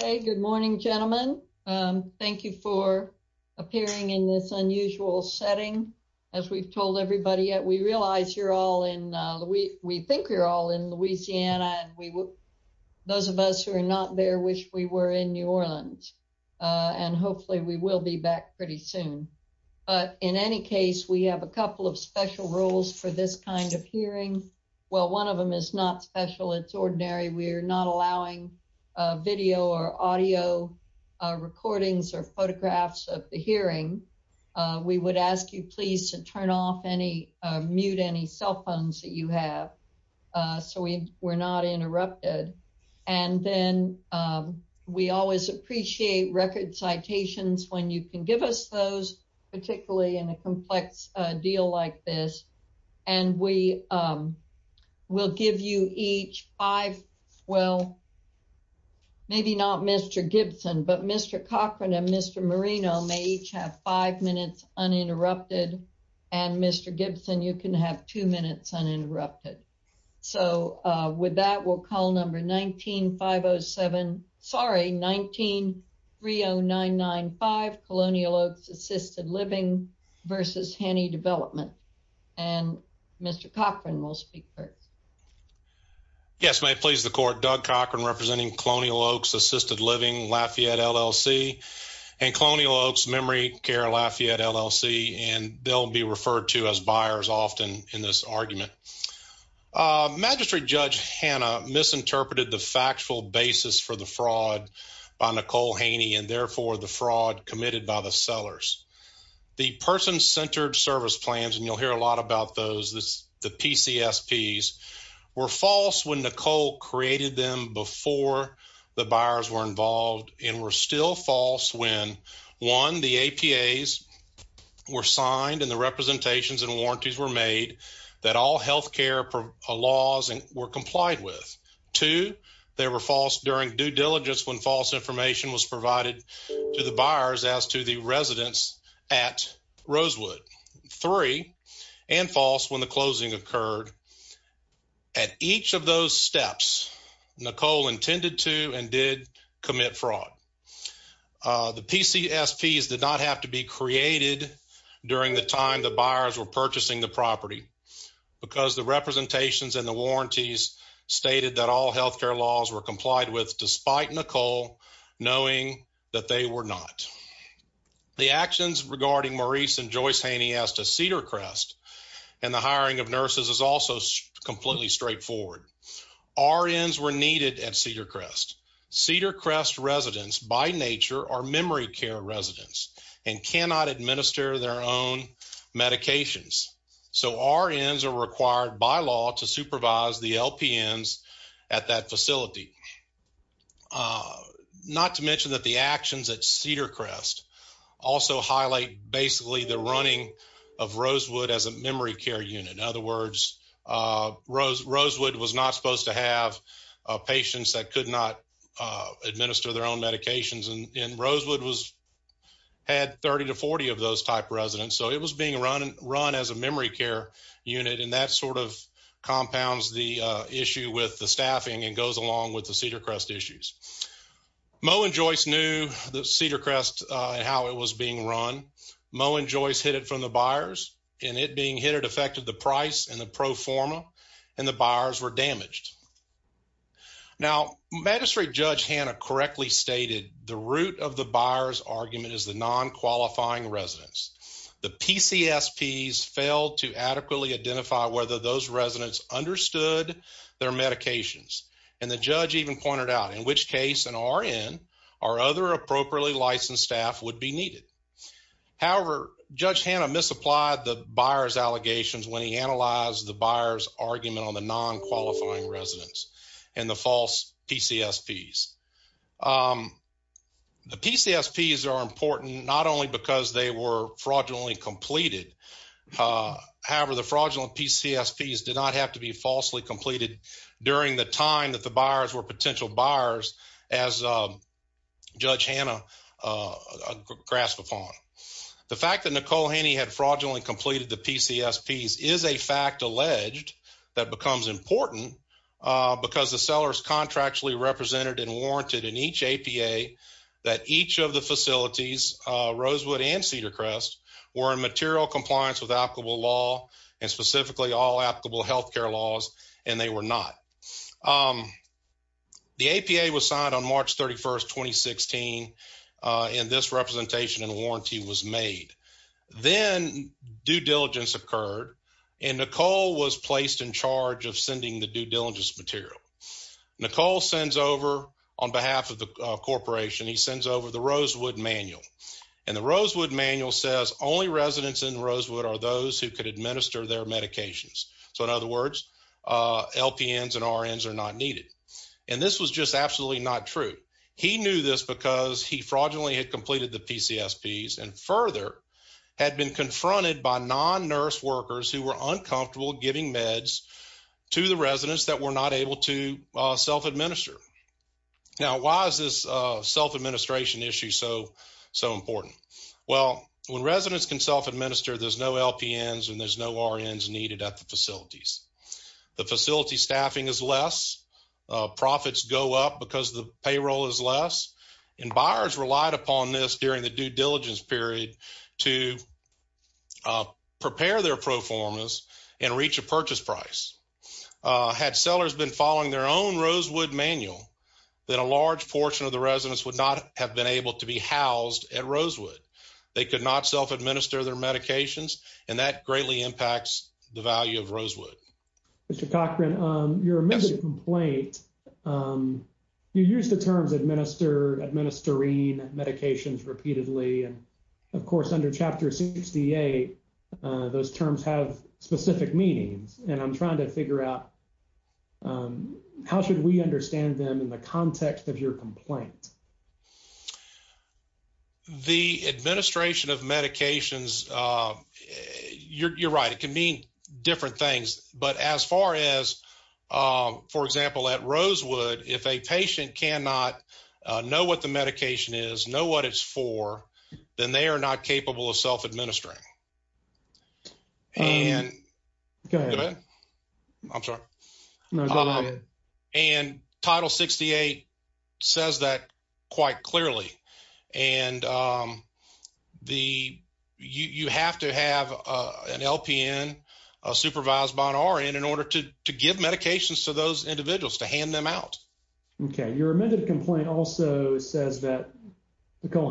Okay, good morning, gentlemen. Thank you for appearing in this unusual setting. As we've told everybody yet, we realize you're all in, we think we're all in Louisiana, and we will, those of us who are not there wish we were in New Orleans. And hopefully we will be back pretty soon. But in any case, we have a couple of special rules for this kind of hearing. Well, one of them is not special, it's ordinary, we're not allowing video or audio recordings or photographs of the hearing, we would ask you please to turn off any mute any cell phones that you have. So we were not interrupted. And then we always appreciate record citations when you can give us those, particularly in a complex deal like this. And we will give you each five. Well, maybe not Mr. Gibson, but Mr. Cochran and Mr. Marino may each have five minutes uninterrupted. And Mr. Gibson, you can have two minutes uninterrupted. So with that, we'll call number 19-507, sorry, 19-30995 Colonial Oaks Assisted Living versus Haney Development. And Mr. Cochran will speak first. Yes, may it please the court, Doug Cochran representing Colonial Oaks Assisted Living, Lafayette LLC, and Colonial Oaks Memory Care, Lafayette LLC, and they'll be referred to as buyers often in this argument. Magistrate Judge Hanna misinterpreted the factual basis for the service plans, and you'll hear a lot about those. The PCSPs were false when Nicole created them before the buyers were involved and were still false when, one, the APAs were signed and the representations and warranties were made that all healthcare laws were complied with. Two, they were false during due diligence when false information was provided to the buyers as to the residents at Rosewood. Three, and false when the closing occurred. At each of those steps, Nicole intended to and did commit fraud. The PCSPs did not have to be created during the time the buyers were purchasing the property because the representations and the warranties stated that healthcare laws were complied with despite Nicole knowing that they were not. The actions regarding Maurice and Joyce Haney as to Cedar Crest and the hiring of nurses is also completely straightforward. RNs were needed at Cedar Crest. Cedar Crest residents by nature are memory care residents and cannot administer their own medications, so RNs are required by law to be at that facility. Not to mention that the actions at Cedar Crest also highlight basically the running of Rosewood as a memory care unit. In other words, Rosewood was not supposed to have patients that could not administer their own medications and Rosewood had 30 to 40 of those type residents, so it was being run as a memory care unit and that sort of compounds the issue with the staffing and goes along with the Cedar Crest issues. Moe and Joyce knew the Cedar Crest and how it was being run. Moe and Joyce hit it from the buyers and it being hit it affected the price and the pro forma and the buyers were damaged. Now, Magistrate Judge Hanna correctly stated the root of the buyers argument is the non-qualifying residents. The PCSPs failed to and the judge even pointed out in which case an RN or other appropriately licensed staff would be needed. However, Judge Hanna misapplied the buyers allegations when he analyzed the buyers argument on the non-qualifying residents and the false PCSPs. The PCSPs are important not only because they were fraudulently completed, however, the fraudulent PCSPs did not have to be falsely completed during the time that the buyers were potential buyers as Judge Hanna grasped upon. The fact that Nicole Haney had fraudulently completed the PCSPs is a fact alleged that becomes important because the sellers contractually represented and warranted in each APA that each of the facilities, Rosewood and Cedar Crest, were in material compliance with applicable law and specifically all applicable health care laws and they were not. The APA was signed on March 31, 2016 and this representation and warranty was made. Then due diligence occurred and Nicole was placed in charge of sending the due diligence material. Nicole sends over on behalf of the corporation, he sends over the Rosewood manual and the Rosewood manual says only residents in could administer their medications. So, in other words, LPNs and RNs are not needed and this was just absolutely not true. He knew this because he fraudulently had completed the PCSPs and further had been confronted by non-nurse workers who were uncomfortable giving meds to the residents that were not able to self-administer. Now, why is this self-administration issue so important? Well, when residents can self-administer, there's no LPNs and there's no RNs needed at the facilities. The facility staffing is less, profits go up because the payroll is less and buyers relied upon this during the due diligence period to prepare their pro formas and reach a purchase price. Had sellers been following their own Rosewood manual, then a large to be housed at Rosewood. They could not self-administer their medications and that greatly impacts the value of Rosewood. Mr. Cochran, your amended complaint, you use the terms administer, administering medications repeatedly and of course under chapter 68, those terms have specific meanings and I'm trying to figure out how should we understand them in the context of your complaint? The administration of medications, you're right, it can mean different things but as far as for example at Rosewood, if a patient cannot know what the medication is, know what it's for, then they are not capable of self-administering. Go ahead. I'm sorry. No, go ahead. And title 68 says that quite clearly and you have to have an LPN, a supervised by an RN in order to give medications to those individuals, to hand them out. Okay, your amended complaint also says that as instructed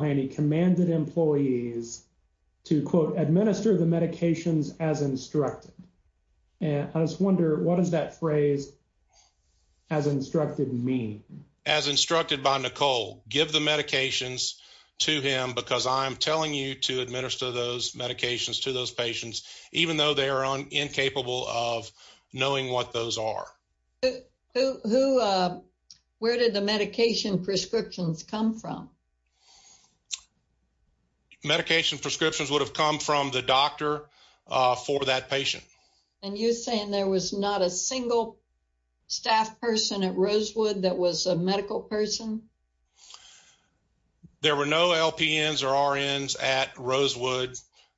and I just wonder what does that phrase as instructed mean? As instructed by Nicole, give the medications to him because I'm telling you to administer those medications to those patients even though they are incapable of knowing what those are. Where did the medication prescriptions come from? The medication prescriptions would have come from the doctor for that patient. And you're saying there was not a single staff person at Rosewood that was a medical person? There were no LPNs or RNs at Rosewood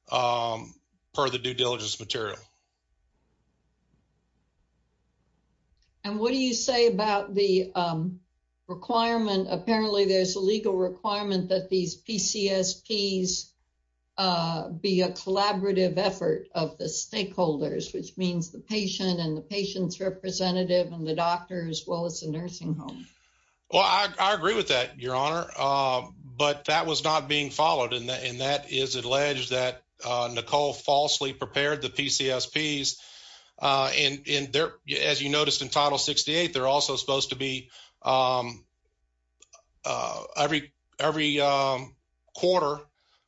per the due diligence material. And what do you say about the requirement, apparently there's a legal requirement that these PCSPs be a collaborative effort of the stakeholders, which means the patient and the patient's representative and the doctor as well as the nursing home. Well, I agree with that, your honor, but that was not being followed and that is alleged that Nicole falsely prepared the PCSPs. And as you noticed in title 68, they're also supposed to be every quarter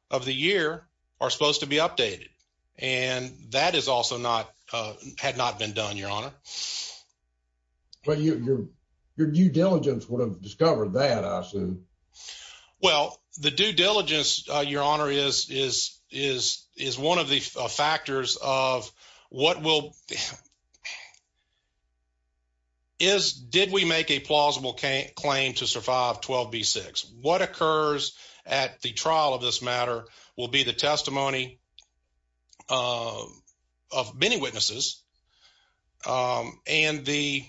of the year are supposed to be updated. And that is also had not been done, your honor. But your due diligence would have discovered that, I assume. Well, the due diligence, your honor, is one of the factors of what will... Did we make a plausible claim to survive 12B6? What occurs at the trial of this matter will be the testimony of many witnesses and the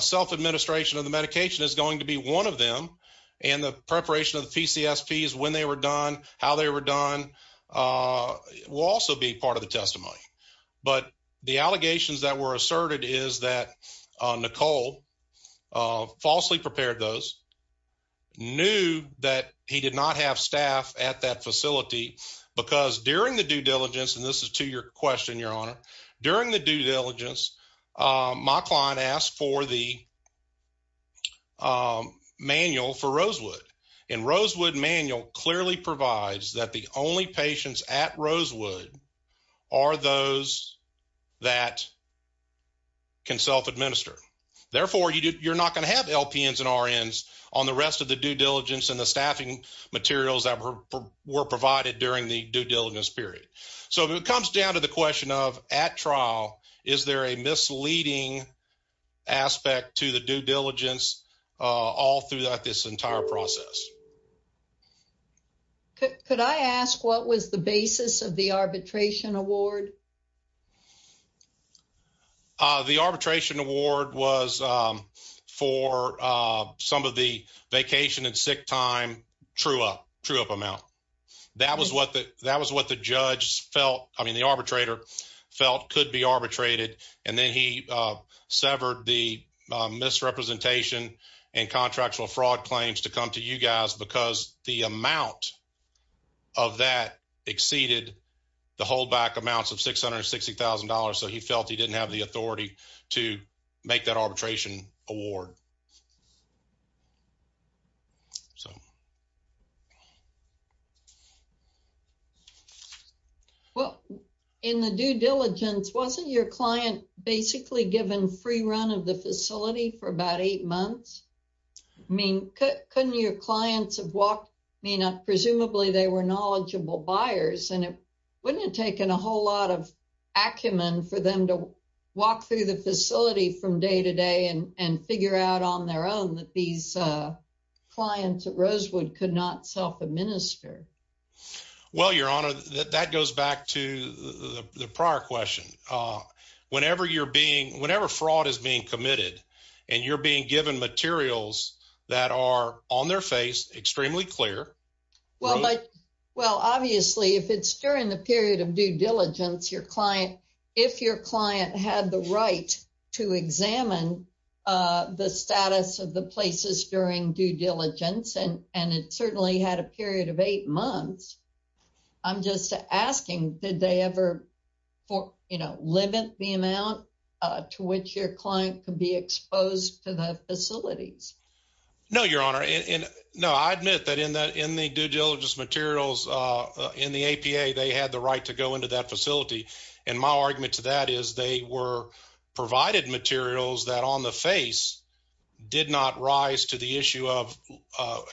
self-administration of the medication is going to be one of them. And the preparation of the PCSPs, when they were done, how they were done, will also be part of the testimony. But the allegations that were asserted is that Nicole falsely prepared those, knew that he did not have staff at that facility because during the due diligence, and this is to your question, your honor, during the due diligence, my client asked for the manual for Rosewood. And Rosewood manual clearly provides that the only patients at Rosewood are those that can self-administer. Therefore, you're not going to have LPNs and RNs on the rest of the due diligence and the staffing materials that were provided during the due Is there a misleading aspect to the due diligence all throughout this entire process? Could I ask what was the basis of the arbitration award? The arbitration award was for some of the vacation and sick time true up amount. That was what the I mean, the arbitrator felt could be arbitrated. And then he severed the misrepresentation and contractual fraud claims to come to you guys because the amount of that exceeded the holdback amounts of $660,000. So he felt he didn't have the authority to make that arbitration award. Well, in the due diligence, wasn't your client basically given free run of the facility for about eight months? I mean, couldn't your clients have walked, I mean, presumably they were knowledgeable buyers and it wouldn't have taken a whole lot of acumen for them to walk through the facility from day to day and figure out on their own that these clients at Rosewood could not self administer? Well, your honor, that goes back to the prior question. Whenever you're being whenever fraud is being committed, and you're being given materials that are on their face, extremely clear. Well, like, well, obviously, if it's during the period of due diligence, your client, if your client had the right to examine the status of the places during due diligence, and and it certainly had a period of eight months. I'm just asking, did they ever for, you know, limit the amount to which your client could be exposed to the facilities? No, your honor. And no, I admit that in that in the due diligence materials, in the APA, they had the right to go into that facility. And my argument to that is they were provided materials that on the face did not rise to the issue of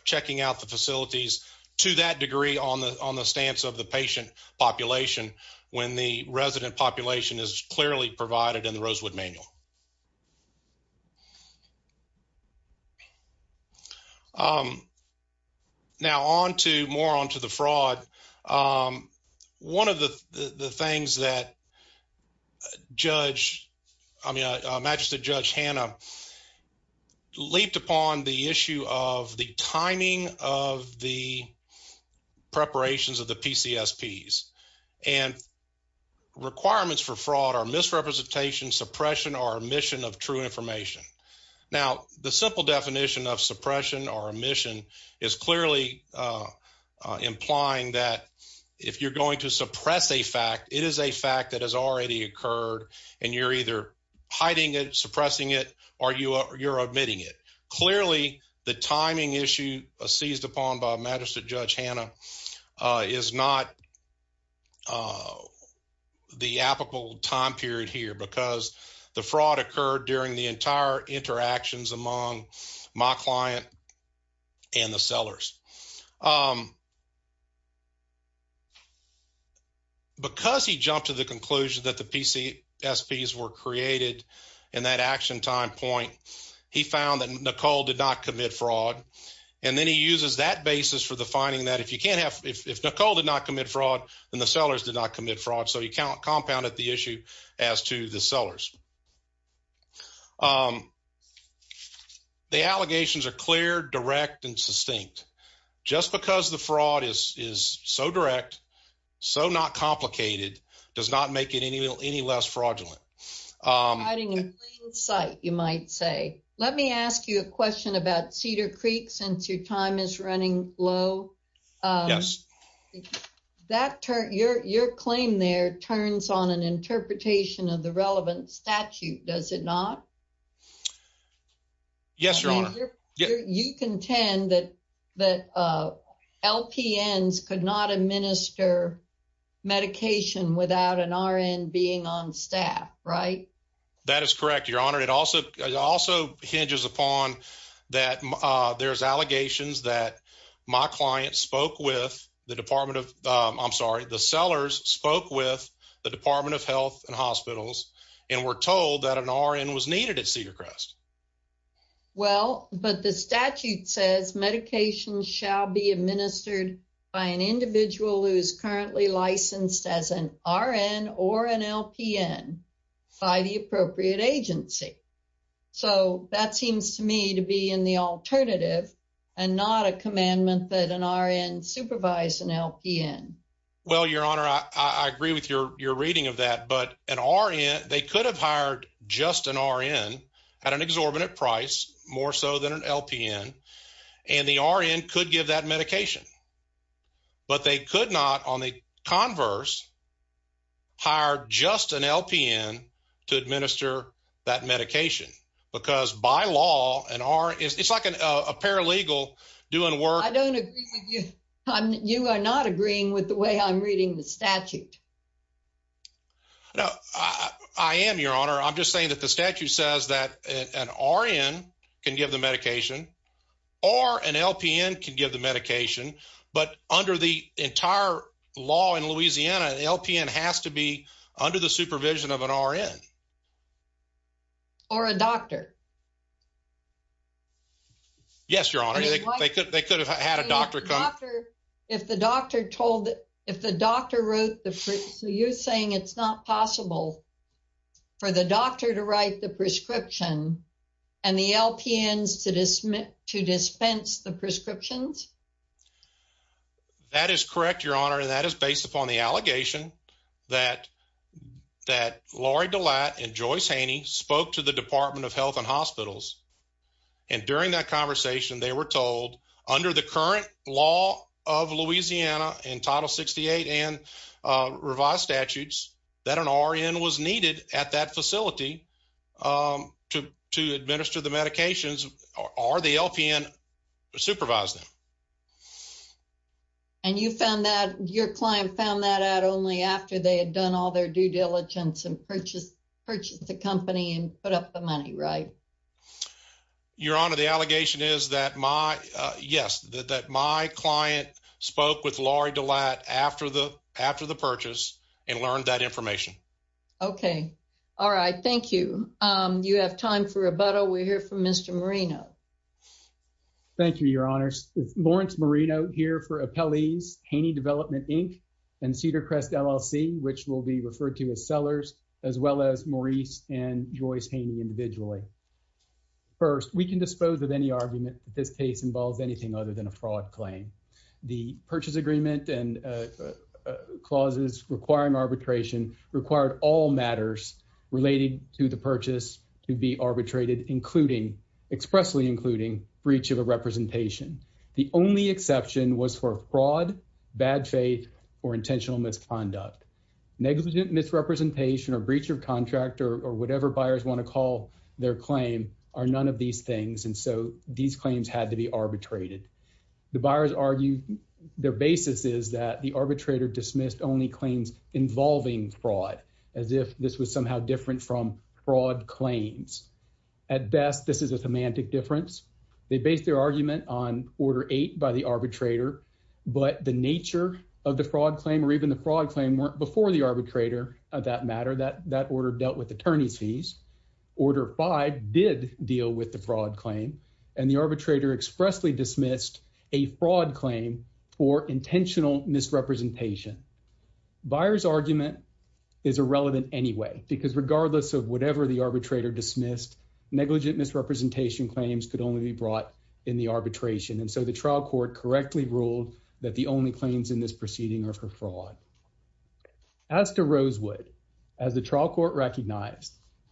checking out the facilities to that degree on the on the stance of the patient population when the resident population is clearly provided in the Rosewood manual. Um, now on to more on to the fraud. One of the things that Judge, I mean, Majesty Judge Hannah leaped upon the issue of the timing of the omission of true information. Now, the simple definition of suppression or omission is clearly implying that if you're going to suppress a fact, it is a fact that has already occurred. And you're either hiding it, suppressing it, or you're admitting it. Clearly, the timing issue seized upon by Majesty Judge Hannah is not the applicable time period here because the fraud occurred during the entire interactions among my client and the sellers. Because he jumped to the conclusion that the PCSPs were created in that action time point, he found that Nicole did not commit fraud. And then he uses that basis for the finding that if you can't have if Nicole did not commit fraud, then the sellers did not commit fraud. So, he compounded the issue as to the sellers. The allegations are clear, direct, and sustained. Just because the fraud is so direct, so not complicated, does not make it any less fraudulent. Um, hiding in plain sight, you might say. Let me ask you a question about Cedar Creek, since your time is running low. Yes. Your claim there turns on an interpretation of the relevant statute, does it not? Yes, Your Honor. You contend that LPNs could not administer medication without an RN being on staff, right? That is correct, Your Honor. It also hinges upon that, uh, there's allegations that my client spoke with the Department of, um, I'm sorry, the sellers spoke with the Department of Health and Hospitals and were told that an RN was needed at Cedar Crest. Well, but the statute says medications shall be administered by an individual who is currently licensed as an RN or an LPN by the appropriate agency. So, that seems to me to be in the alternative and not a commandment that an RN supervise an LPN. Well, Your Honor, I agree with your reading of that, but an RN, they could have hired just an RN at an exorbitant price, more so than an LPN, and the RN could give that medication. But they could not, on the converse, hire just an LPN to administer that medication, because by law, an RN, it's like a paralegal doing work. I don't agree with you. You are not agreeing with the way I'm reading the statute. No, I am, Your Honor. I'm just saying that the statute says that an RN can give the medication or an LPN can give the medication, but under the entire law in Louisiana, the LPN has to be under the supervision of an RN. Or a doctor. Yes, Your Honor. They could have had a doctor come. If the doctor told, if the doctor wrote the, so you're saying it's not possible for the doctor to write the prescription and the LPNs to dispense the prescriptions? That is correct, Your Honor, and that is based upon the allegation that Lori DeLatt and Joyce Haney spoke to the Department of Health and Hospitals, and during that conversation, they were told under the current law of Louisiana in Title 68 and revised statutes, that an RN was needed at that facility to administer the medications or the LPN supervised them. And you found that, your client found that out only after they had done all their due diligence and purchased the company and put up the money, right? Your Honor, the allegation is that my, yes, that my client spoke with Lori DeLatt after the purchase and learned that information. Okay, all right, thank you. You have time for rebuttal. We're here for Mr. Marino. Thank you, Your Honors. Lawrence Marino here for Appellees Haney Development, Inc. and Cedar Crest, LLC, which will be referred to as sellers, as well as Maurice and Joyce Haney individually. First, we can dispose of any argument that this case involves anything other than a fraud claim. The purchase agreement and clauses requiring arbitration required all matters related to the purchase to be arbitrated, including, expressly including, breach of a representation. The only exception was for fraud, bad faith, or intentional misconduct. Negligent misrepresentation or breach of contract or whatever buyers want to call their claim are none of these things, and so these claims had to be arbitrated. The buyers argue their basis is that the arbitrator dismissed only claims involving fraud, as if this was somehow different from fraud claims. At best, this is a semantic difference. They based their argument on Order 8 by the arbitrator, but the nature of the fraud claim or even the fraud claim weren't before the arbitrator of that matter. That order dealt with attorney's fees. Order 5 did deal with the fraud claim, and the arbitrator expressly dismissed a fraud claim for intentional misrepresentation. Buyer's argument is irrelevant anyway, because regardless of whatever the arbitrator dismissed, negligent misrepresentation claims could only be brought in the arbitration, and so the trial court correctly ruled that the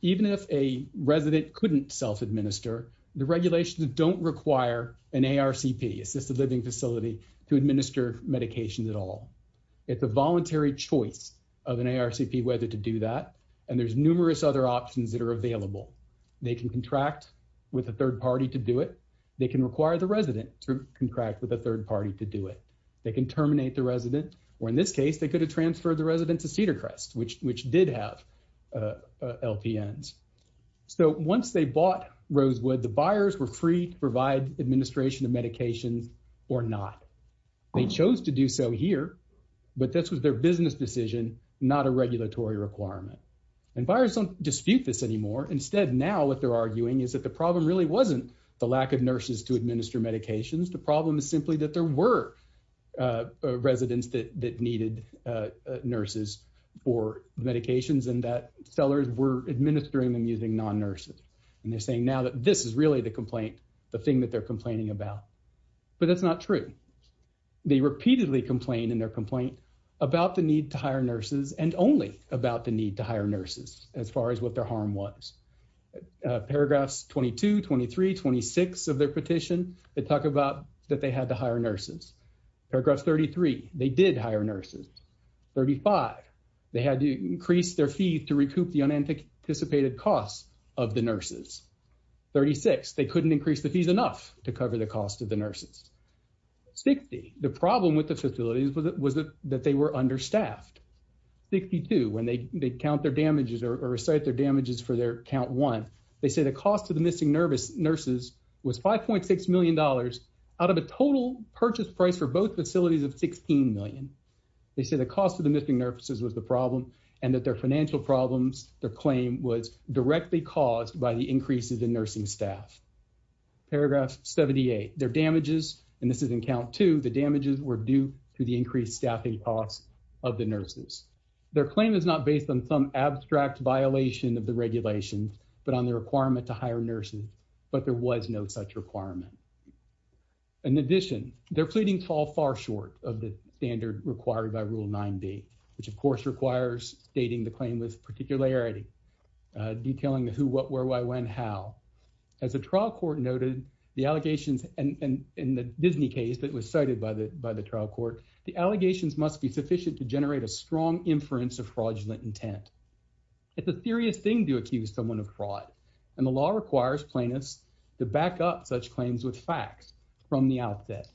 Even if a resident couldn't self-administer, the regulations don't require an ARCP, assisted living facility, to administer medication at all. It's a voluntary choice of an ARCP whether to do that, and there's numerous other options that are available. They can contract with a third party to do it. They can require the resident to contract with a third party to do it. They can terminate the resident, or in this case, they could have transferred the resident to Cedar LPNs. So once they bought Rosewood, the buyers were free to provide administration of medications or not. They chose to do so here, but this was their business decision, not a regulatory requirement, and buyers don't dispute this anymore. Instead, now what they're arguing is that the problem really wasn't the lack of nurses to administer medications. The problem is simply that there were residents that needed nurses for medications and that sellers were administering them using non-nurses, and they're saying now that this is really the complaint, the thing that they're complaining about, but that's not true. They repeatedly complain in their complaint about the need to hire nurses and only about the need to hire nurses as far as what their harm was. Paragraphs 22, 23, 26 of their petition, they talk about that they had to hire nurses. Paragraph 33, they did hire nurses. 35, they had to increase their fee to recoup the unanticipated costs of the nurses. 36, they couldn't increase the fees enough to cover the cost of the nurses. 60, the problem with the facilities was that they were understaffed. 62, when they count or recite their damages for their count one, they say the cost of the missing nurses was $5.6 million out of a total purchase price for both facilities of $16 million. They say the cost of the missing nurses was the problem, and that their financial problems, their claim was directly caused by the increases in nursing staff. Paragraph 78, their damages, and this is in count two, the damages were due to the increased staffing costs of the nurses. Their claim is not based on some abstract violation of the regulations, but on the requirement to hire nurses, but there was no such requirement. In addition, their pleadings fall far short of the standard required by Rule 9b, which of course requires stating the claim with particularity, detailing the who, what, where, why, when, how. As the trial court noted, the allegations, and in the Disney case that was cited by the trial court, the allegations must be sufficient to generate a strong inference of intent. It's a serious thing to accuse someone of fraud, and the law requires plaintiffs to back up such claims with facts from the outset.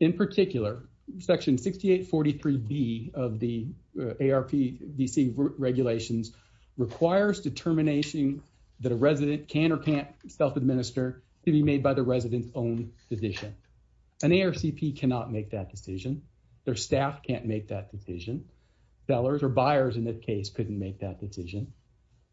In particular, Section 6843B of the ARP DC regulations requires determination that a resident can or can't self-administer to be made by the resident's own decision. An ARCP cannot make that decision. Their staff can't make that decision. Sellers or the case couldn't make that decision.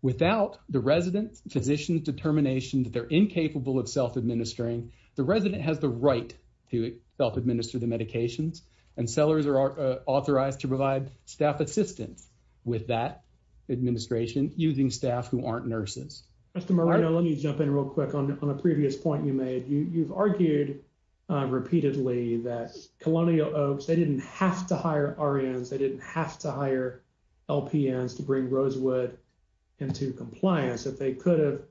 Without the resident's physician's determination that they're incapable of self-administering, the resident has the right to self-administer the medications, and sellers are authorized to provide staff assistance with that administration using staff who aren't nurses. Mr. Moreno, let me jump in real quick on a previous point you made. You've argued repeatedly that Colonial Oaks, they didn't have to hire RNs, they didn't have to hire LPNs to bring Rosewood into compliance if they could have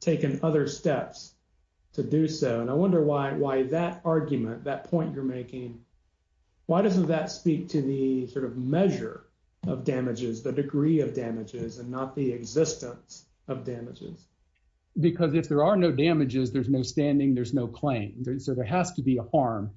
taken other steps to do so. And I wonder why that argument, that point you're making, why doesn't that speak to the sort of measure of damages, the degree of damages, and not the existence of damages? Because if there are no damages, there's no standing, there's no claim. So there has to be a harm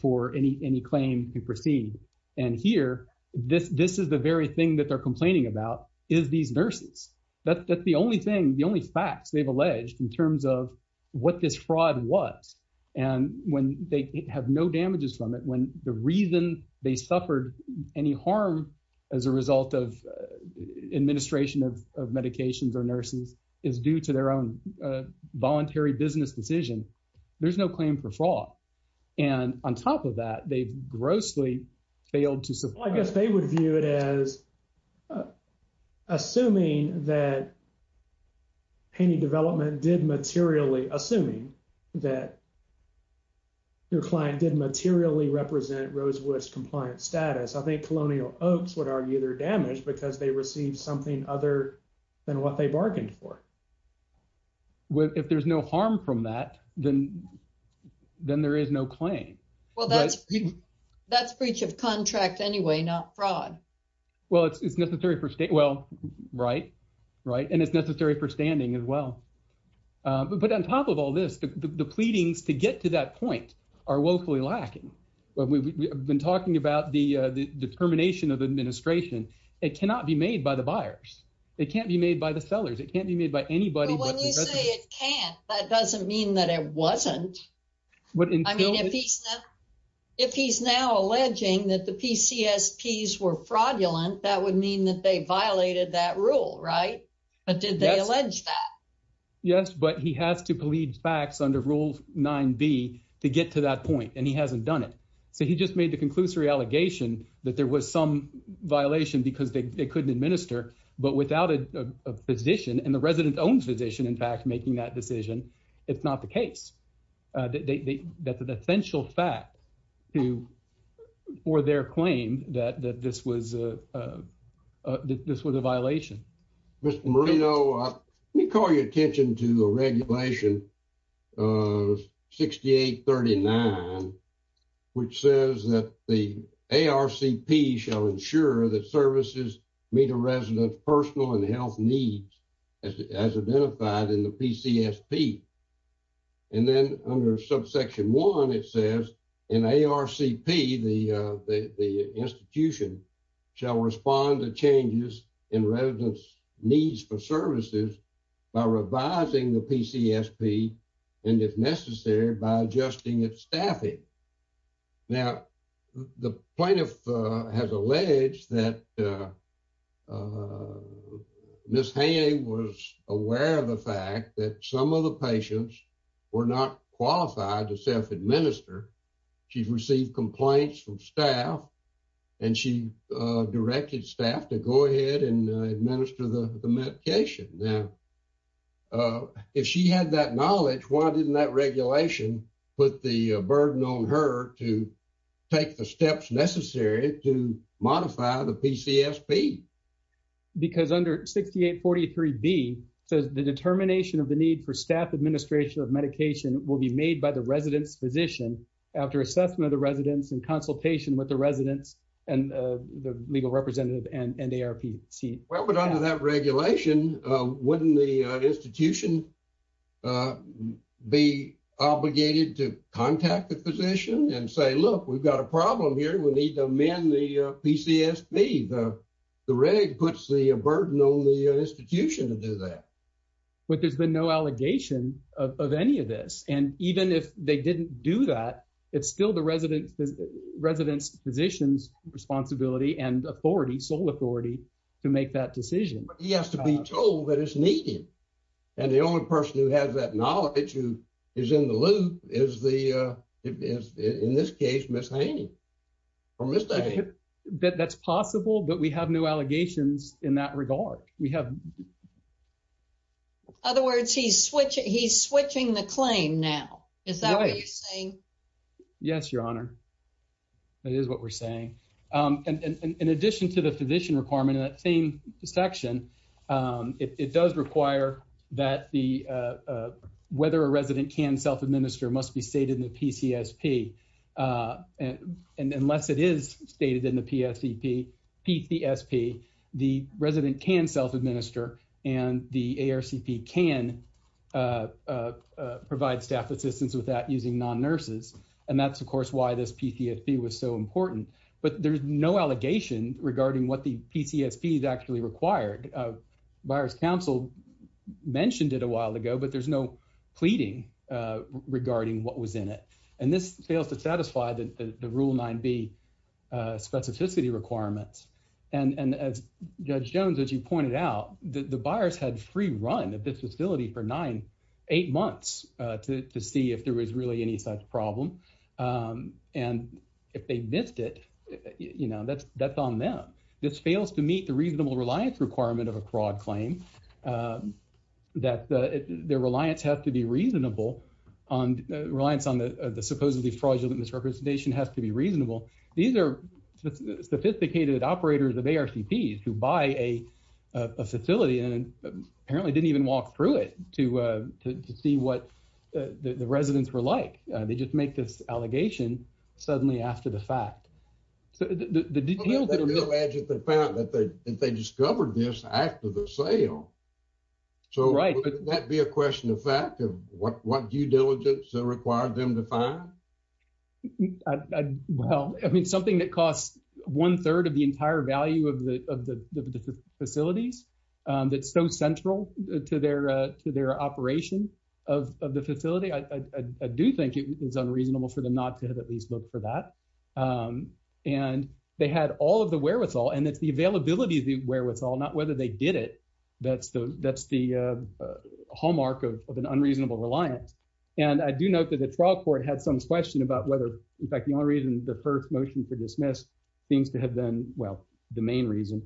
for any claim to proceed. And here, this is the very thing that they're complaining about, is these nurses. That's the only thing, the only facts they've alleged in terms of what this fraud was. And when they have no damages from it, when the reason they suffered any harm as a result of administration of medications or nurses is due to their own voluntary business decision, there's no claim for fraud. And on top of that, they've grossly failed to support- I guess they would view it as assuming that painting development did materially, assuming that your client did materially represent Rosewood's compliant status. I think Colonial Oaks would argue they're damaged because they received something other than what they bargained for. If there's no harm from that, then there is no claim. Well, that's breach of contract anyway, not fraud. Well, it's necessary for state- well, right. And it's necessary for standing as well. But on top of all this, the pleadings to get to that point are woefully lacking. We've been talking about the determination of the administration. It cannot be made by the buyers. It can't be made by the sellers. It can't be made by anybody but the- When you say it can't, that doesn't mean that it wasn't. If he's now alleging that the PCSPs were fraudulent, that would mean that they violated that rule, right? But did they allege that? Yes, but he has to plead facts under Rule 9b to get to that point, and he hasn't done it. So he just made the conclusory allegation that there was some violation because they couldn't administer, but without a physician, and the resident's own physician, in fact, making that decision, it's not the case. That's an essential fact for their claim that this was a violation. Mr. Marino, let me call your attention to the Regulation 6839, which says that the as identified in the PCSP, and then under subsection 1, it says in ARCP, the institution shall respond to changes in residents' needs for services by revising the PCSP, and if necessary, by adjusting its staffing. Now, the plaintiff has alleged that Ms. Hay was aware of the fact that some of the patients were not qualified to self-administer. She's received complaints from staff, and she directed staff to go ahead and administer the medication. Now, if she had that knowledge, why didn't that regulation put the burden on her to take the steps necessary to modify the PCSP? Because under 6843B, it says, the determination of the need for staff administration of medication will be made by the resident's physician after assessment of the residents in consultation with the residents and the legal representative and ARPC. Well, but under that regulation, wouldn't the would need to amend the PCSP. The Reg puts the burden on the institution to do that. But there's been no allegation of any of this, and even if they didn't do that, it's still the resident's physician's responsibility and authority, sole authority, to make that decision. He has to be told that it's needed, and the only person who has that right. That's possible, but we have no allegations in that regard. We have. Other words, he's switching the claim now. Is that what you're saying? Yes, Your Honor. That is what we're saying. In addition to the physician requirement in that same section, it does require that the whether a resident can self-administer must be stated in PCSP. And unless it is stated in the PCSP, the resident can self-administer, and the ARCP can provide staff assistance with that using non-nurses. And that's, of course, why this PCSP was so important. But there's no allegation regarding what the PCSP is actually required. Buyers Council mentioned it a while ago, but there's no pleading regarding what was in it. And this fails to satisfy the Rule 9b specificity requirements. And as Judge Jones, as you pointed out, the buyers had free run at this facility for nine, eight months to see if there was really any such problem. And if they missed it, you know, that's on them. This fails to meet the reasonable reliance requirement of a fraud claim, that their reliance has to be reasonable, on reliance on the supposedly fraudulent misrepresentation has to be reasonable. These are sophisticated operators of ARCPs who buy a facility and apparently didn't even walk through it to see what the residents were like. They just make this allegation suddenly after the fact. So, the details that are- Well, they do allege that they found that they discovered this after the sale. Right. So, would that be a question of fact of what due diligence required them to find? Well, I mean, something that costs one third of the entire value of the facilities, that's so central to their operation of the facility, I do think it is unreasonable for them not to have at least looked for that. And they had all of the wherewithal, and it's the availability of the wherewithal, not whether they did it, that's the hallmark of an unreasonable reliance. And I do note that the trial court had some question about whether, in fact, the only reason the first motion for dismiss seems to have been, well, the main reason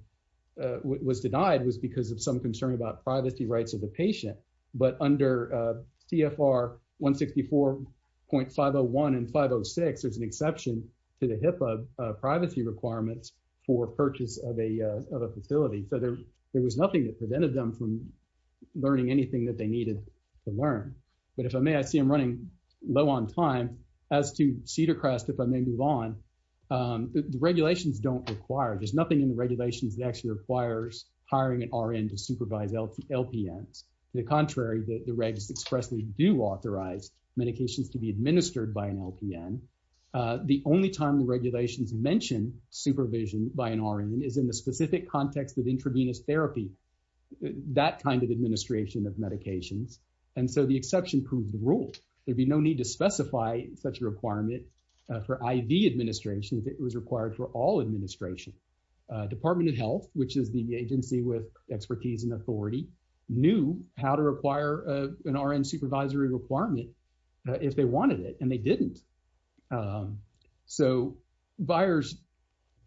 was denied was because of some concern about privacy rights of the patient. But under TFR 164.501 and 506, there's an exception to the HIPAA privacy requirements for purchase of a facility. So, there was nothing that prevented them from learning anything that they needed to learn. But if I may, I see I'm running low on time. As to Cedar Crest, if I may move on, the regulations don't require- There's nothing in the regulations that actually requires hiring an RN to supervise LPNs. To the contrary, the regs expressly do authorize medications to be administered by an LPN. The only time the regulations mention supervision by an RN is in the specific context of intravenous therapy, that kind of administration of medications. And so, the exception proves the rule. There'd be no need to specify such a requirement for IV administration if it was required for all administration. Department of Health, which is the agency with expertise and authority, knew how to require an RN supervisory requirement if they wanted it, and they didn't. So, buyers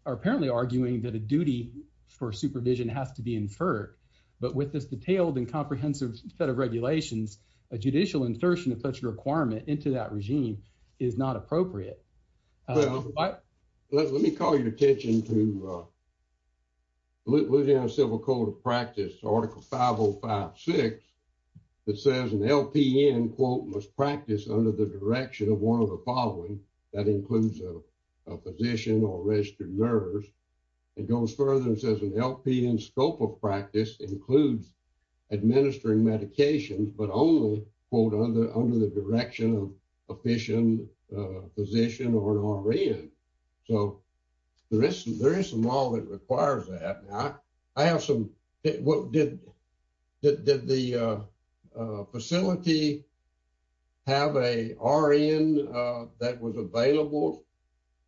are apparently arguing that a duty for supervision has to be inferred. But with this detailed and comprehensive set of regulations, a judicial insertion of such a requirement into that regime is not appropriate. Let me call your attention to Louisiana Civil Code of Practice, Article 5056, that says an LPN, quote, must practice under the direction of one of the following. That includes a physician or registered nurse. It goes further and says an LPN scope of practice includes administering medications, but only, quote, under the direction of a physician physician or an RN. So, there is some law that requires that. I have some, did the facility have a RN that was available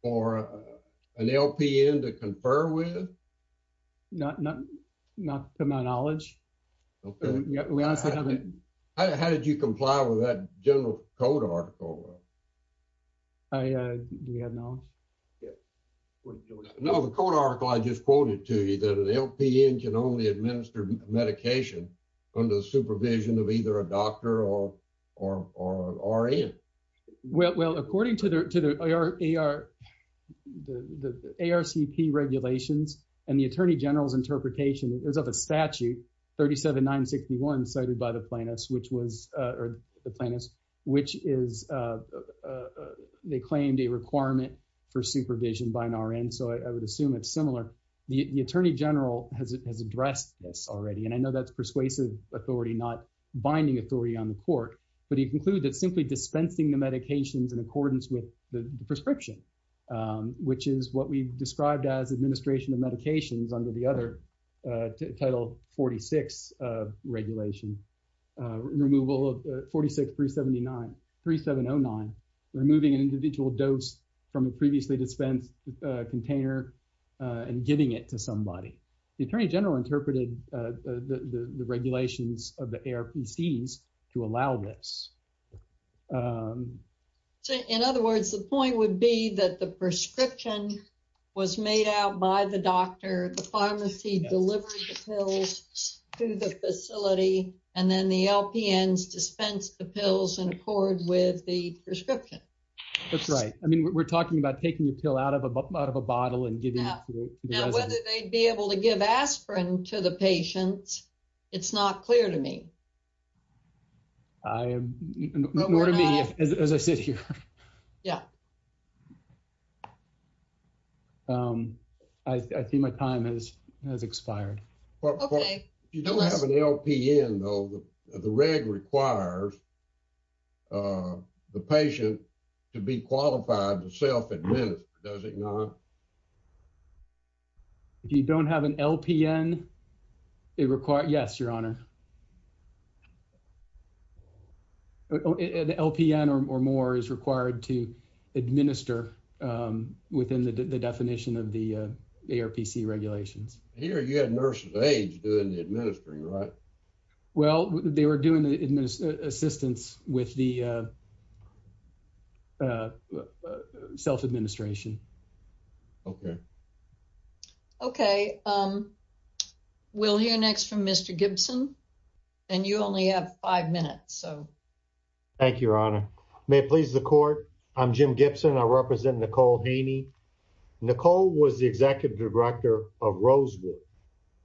for an LPN to confer with? Not to my knowledge. How did you comply with that general code article? Do you have knowledge? No, the code article I just quoted to you that an LPN can only administer medication under the supervision of either a doctor or an RN. Well, according to the ARCP regulations and the Attorney General's interpretation, it was of a statute, 37961, cited by the plaintiffs, which was, or the plaintiffs, which is, they claimed a requirement for supervision by an RN. So, I would assume it's similar. The Attorney General has addressed this already, and I know that's persuasive authority, not binding authority on the court, but he concluded that simply dispensing the medications in accordance with the prescription, which is what we described as administration of medications under the other Title 46 regulation, removal of 46379, 3709, removing an individual dose from a previously dispensed container, and giving it to somebody. The Attorney General interpreted the regulations of the ARPCs to allow this. In other words, the point would be that the prescription was made out by the doctor, the pharmacy delivered the pills to the facility, and then the LPNs dispensed the medication. We're talking about taking a pill out of a bottle and giving it to the resident. Now, whether they'd be able to give aspirin to the patients, it's not clear to me. I, more to me as I sit here. Yeah. I see my time has expired. Okay. You don't have an LPN, though. The reg requires the patient to be qualified to self-administer, does it not? If you don't have an LPN, it requires, yes, Your Honor. An LPN or more is required to administer within the definition of the ARPC regulations. Here, you had nurses of age doing the administering, right? Well, they were doing the assistance with the self-administration. Okay. Okay. We'll hear next from Mr. Gibson, and you only have five minutes, so. Thank you, Your Honor. May it please the Court, I'm Jim Gibson. I represent Nicole Haney. Nicole was the executive director of Rosewood,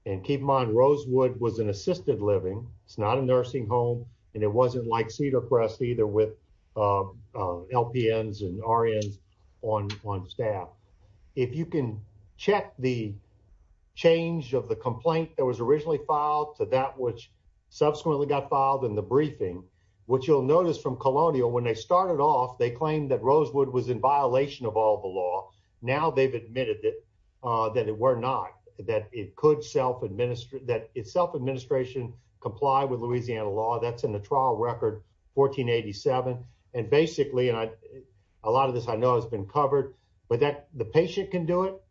and keep in mind, Rosewood was an assisted living. It's not a nursing home, and it wasn't like Cedar Crest either with LPNs and RNs on staff. If you can check the change of the complaint that was originally filed to that which subsequently got filed in the briefing, what you'll notice from Colonial, when they started off, they claimed that Rosewood was in violation of all the law. Now, they've admitted that it were not, that it could self-administer, that self-administration comply with Louisiana law. That's in the trial record 1487, and basically, and a lot of this I know has been covered, but that the patient can do it,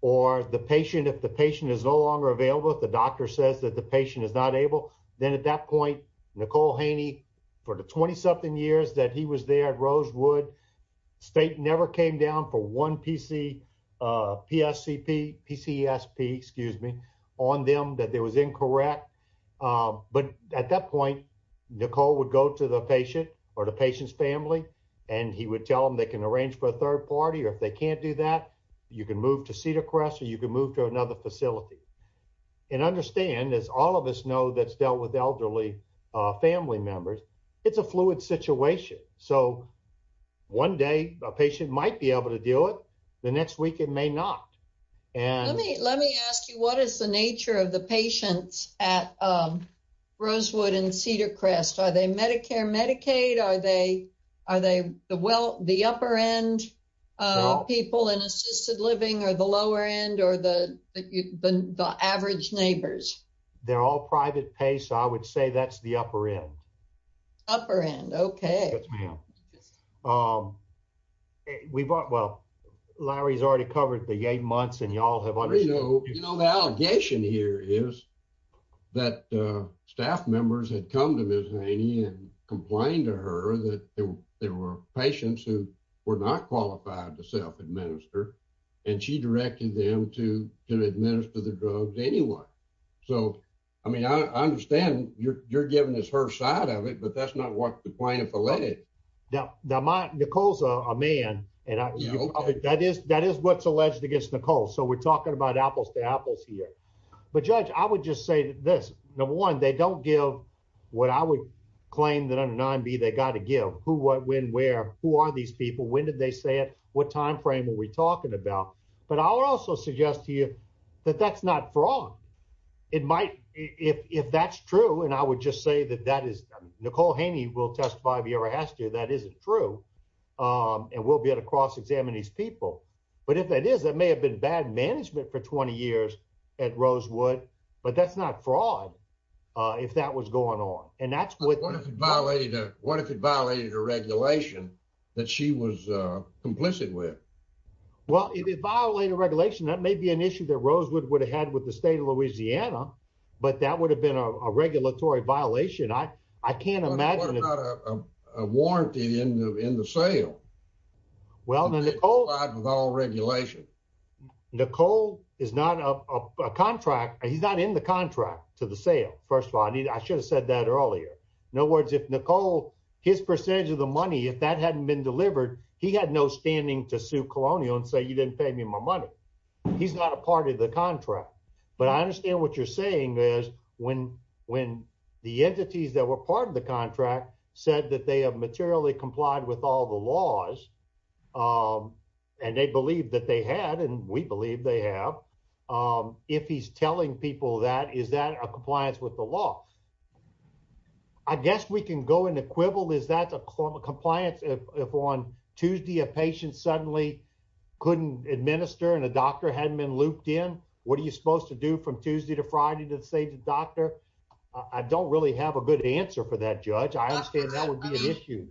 or the patient, if the patient is no longer available, if the doctor says that the patient is not able, then at that point, Nicole Haney, for the 20-something years that he was there at Rosewood, state never came down for one PC, PSCP, PCSP, excuse me, on them that there was incorrect, but at that point, Nicole would go to the patient or the patient's family, and he would tell them they can arrange for a third party, or if they can't do that, you can move to Cedar Crest, or you can move to another facility, and understand, as all of us that's dealt with elderly family members, it's a fluid situation, so one day, a patient might be able to do it, the next week, it may not. Let me ask you, what is the nature of the patients at Rosewood and Cedar Crest? Are they Medicare, Medicaid? Are they the upper-end people in assisted living, or the lower-end, or the average neighbors? They're all private pay, so I would say that's the upper-end. Upper-end, okay. Yes, ma'am. We've, well, Larry's already covered the eight months, and y'all have understood. You know, the allegation here is that staff members had come to Ms. Haney and complained to her that there were patients who were not qualified to self-administer, and she directed them to administer the drugs to anyone, so I mean, I understand you're giving us her side of it, but that's not what the plaintiff alleged. Now, Nicole's a man, and that is what's alleged against Nicole, so we're talking about apples to apples here, but Judge, I would just say this. Number one, they don't give what I would claim that under 9b they got to give, who, what, when, where, who are these people, when did they say it, what time frame are we talking about, but I would also suggest to you that that's not fraud. It might, if that's true, and I would just say that that is, Nicole Haney will testify if she ever has to, that isn't true, and we'll be able to cross-examine these people, but if that is, that may have been bad management for 20 years at Rosewood, but that's not fraud if that was going on, and that's what violated, what if it violated a regulation that she was complicit with? Well, if it violated regulation, that may be an issue that Rosewood would have had with the state of Louisiana, but that would have been a regulatory violation. I can't imagine a warranty in the sale. Well, Nicole is not a contract, he's not in the contract to the sale, first of all, I should have said that earlier. In other words, if Nicole, his percentage of the money, if that hadn't been delivered, he had no standing to sue Colonial and say you didn't pay me my money. He's not a part of the contract, but I understand what you're saying is when the entities that were part of the contract said that they have materially complied with all the laws, and they believed that they had, and we believe they have, if he's telling people that, is that a compliance with the law? I guess we can go in the quibble, is that a compliance if on Tuesday a patient suddenly couldn't administer and a doctor hadn't been looped in? What are you supposed to do from Tuesday to Friday to say to the doctor? I don't really have a good answer for that, Judge. I understand that would be an issue.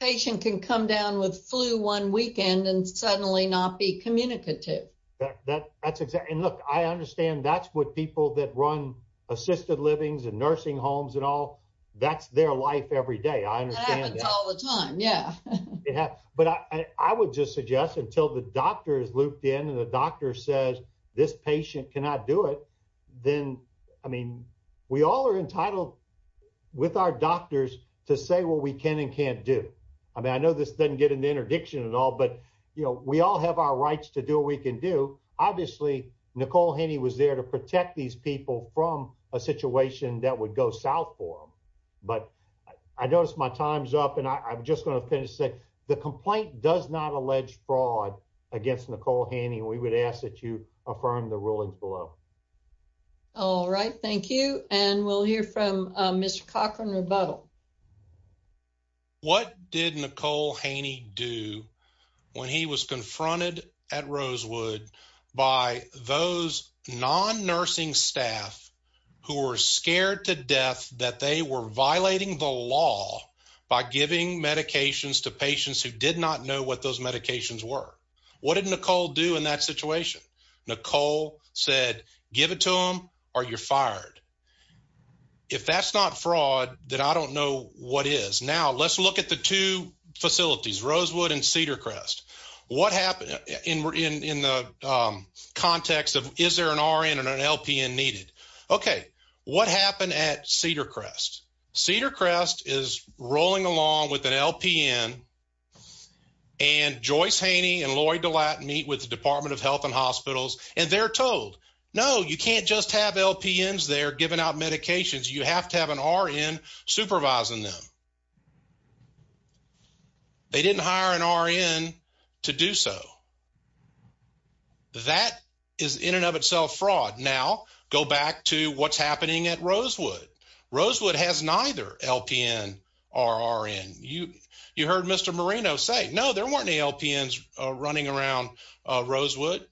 A patient can come down with flu one weekend and suddenly not be communicative. I understand that's what people that run assisted livings and nursing homes and all, that's their life every day. That happens all the time. I would just suggest until the doctor is looped in and the doctor says this patient cannot do it, then we all are entitled with our doctors to say what we can and can't do. I know this doesn't get into interdiction and all, but we all have our rights to do what we can do. Obviously, Nicole Haney was there to protect these people from a situation that would go south for them. I notice my time's up, and I'm just going to finish and say the complaint does not allege fraud against Nicole Haney. We would ask that you affirm the rulings below. All right. Thank you. We'll hear from Mr. Cochran Rebuttal. What did Nicole Haney do when he was confronted at Rosewood by those non-nursing staff who were scared to death that they were violating the law by giving medications to patients who did not know what those medications were? What did Nicole do in that situation? Nicole said, give it to them or you're fired. If that's not fraud, then I don't know what is. Now, let's look at the two facilities, Rosewood and Cedar Crest. What happened in the context of is there an RN and an LPN needed? Okay. What happened at Cedar Crest? Cedar Crest is rolling along with an LPN, and Joyce Haney and Lloyd DeLatte meet with the Department of Health and say, no, you can't just have LPNs there giving out medications. You have to have an RN supervising them. They didn't hire an RN to do so. That is in and of itself fraud. Now, go back to what's happening at Rosewood. Rosewood has neither LPN or RN. You heard Mr. Marino say, no, there weren't LPNs running around Rosewood.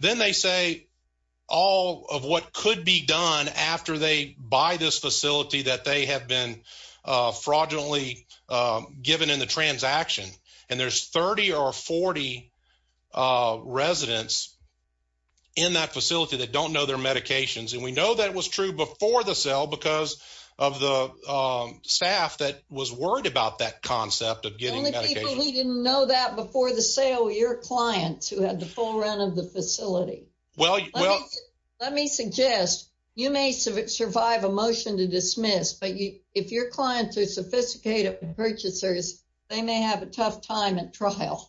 Then they say all of what could be done after they buy this facility that they have been fraudulently given in the transaction. There's 30 or 40 residents in that facility that don't know their medications. We know that was true before the sale because of the staff that was worried about that concept of getting medications. Only people who didn't know that before the sale were your clients who had the full run of the facility. Let me suggest you may survive a motion to dismiss, but if your clients are sophisticated purchasers, they may have a tough time at trial.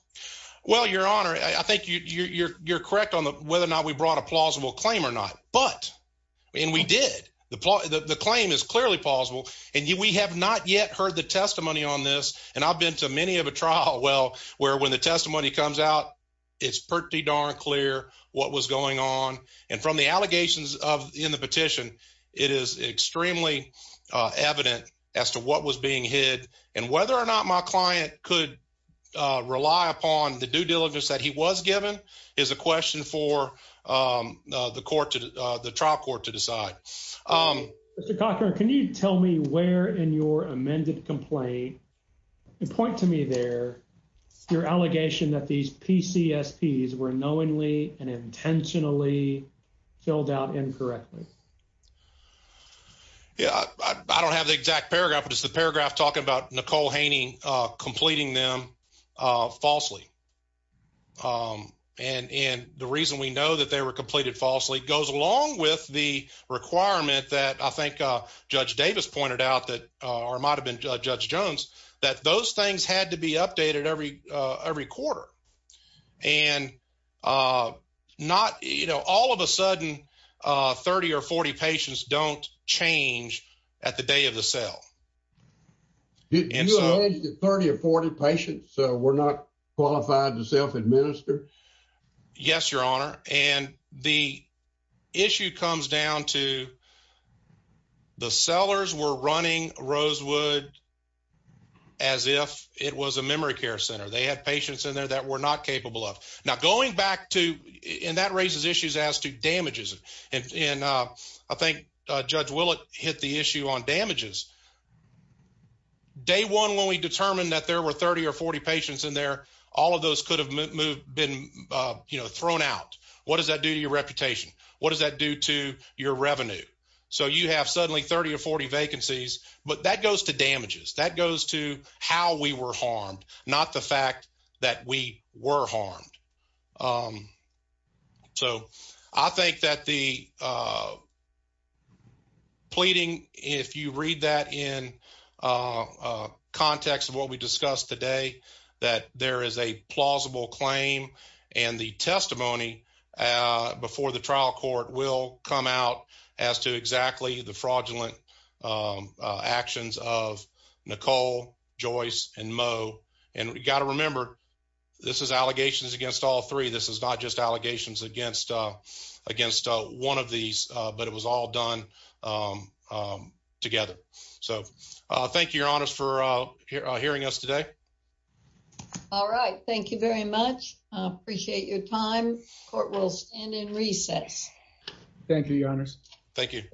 Your Honor, I think you're correct on whether or not we claim or not. We did. The claim is clearly plausible. We have not yet heard the testimony on this. I've been to many of a trial where when the testimony comes out, it's pretty darn clear what was going on. From the allegations in the petition, it is extremely evident as to what was being hid. Whether or not my client could rely upon the due diligence that he was given is a trial court to decide. Mr. Cochran, can you tell me where in your amended complaint point to me there your allegation that these PCSPs were knowingly and intentionally filled out incorrectly? I don't have the exact paragraph, but it's the paragraph talking about completing them falsely. The reason we know that they were completed falsely goes along with the requirement that I think Judge Davis pointed out or might have been Judge Jones, that those things had to be updated every quarter. All of a sudden, 30 or 40 patients don't change at the day of the trial. 30 or 40 patients were not qualified to self-administer? Yes, Your Honor. The issue comes down to the sellers were running Rosewood as if it was a memory care center. They had patients in there that were not capable of. That raises issues as to damages. I think Judge Willett hit the issue on damages. Day one, when we determined that there were 30 or 40 patients in there, all of those could have been thrown out. What does that do to your reputation? What does that do to your revenue? You have suddenly 30 or 40 vacancies, but that goes to damages. That goes to how we were harmed, not the fact that we were harmed. I think that the pleading, if you read that in context of what we discussed today, that there is a plausible claim and the testimony before the trial court will come out as to exactly the fraudulent actions of Nicole, Joyce, and Mo. You got to remember, this is allegations against all three. This is not just allegations against one of these, but it was all done together. Thank you, Your Honors, for hearing us today. All right. Thank you very much. I appreciate your time. Court will stand in recess. Thank you, Your Honors. Thank you.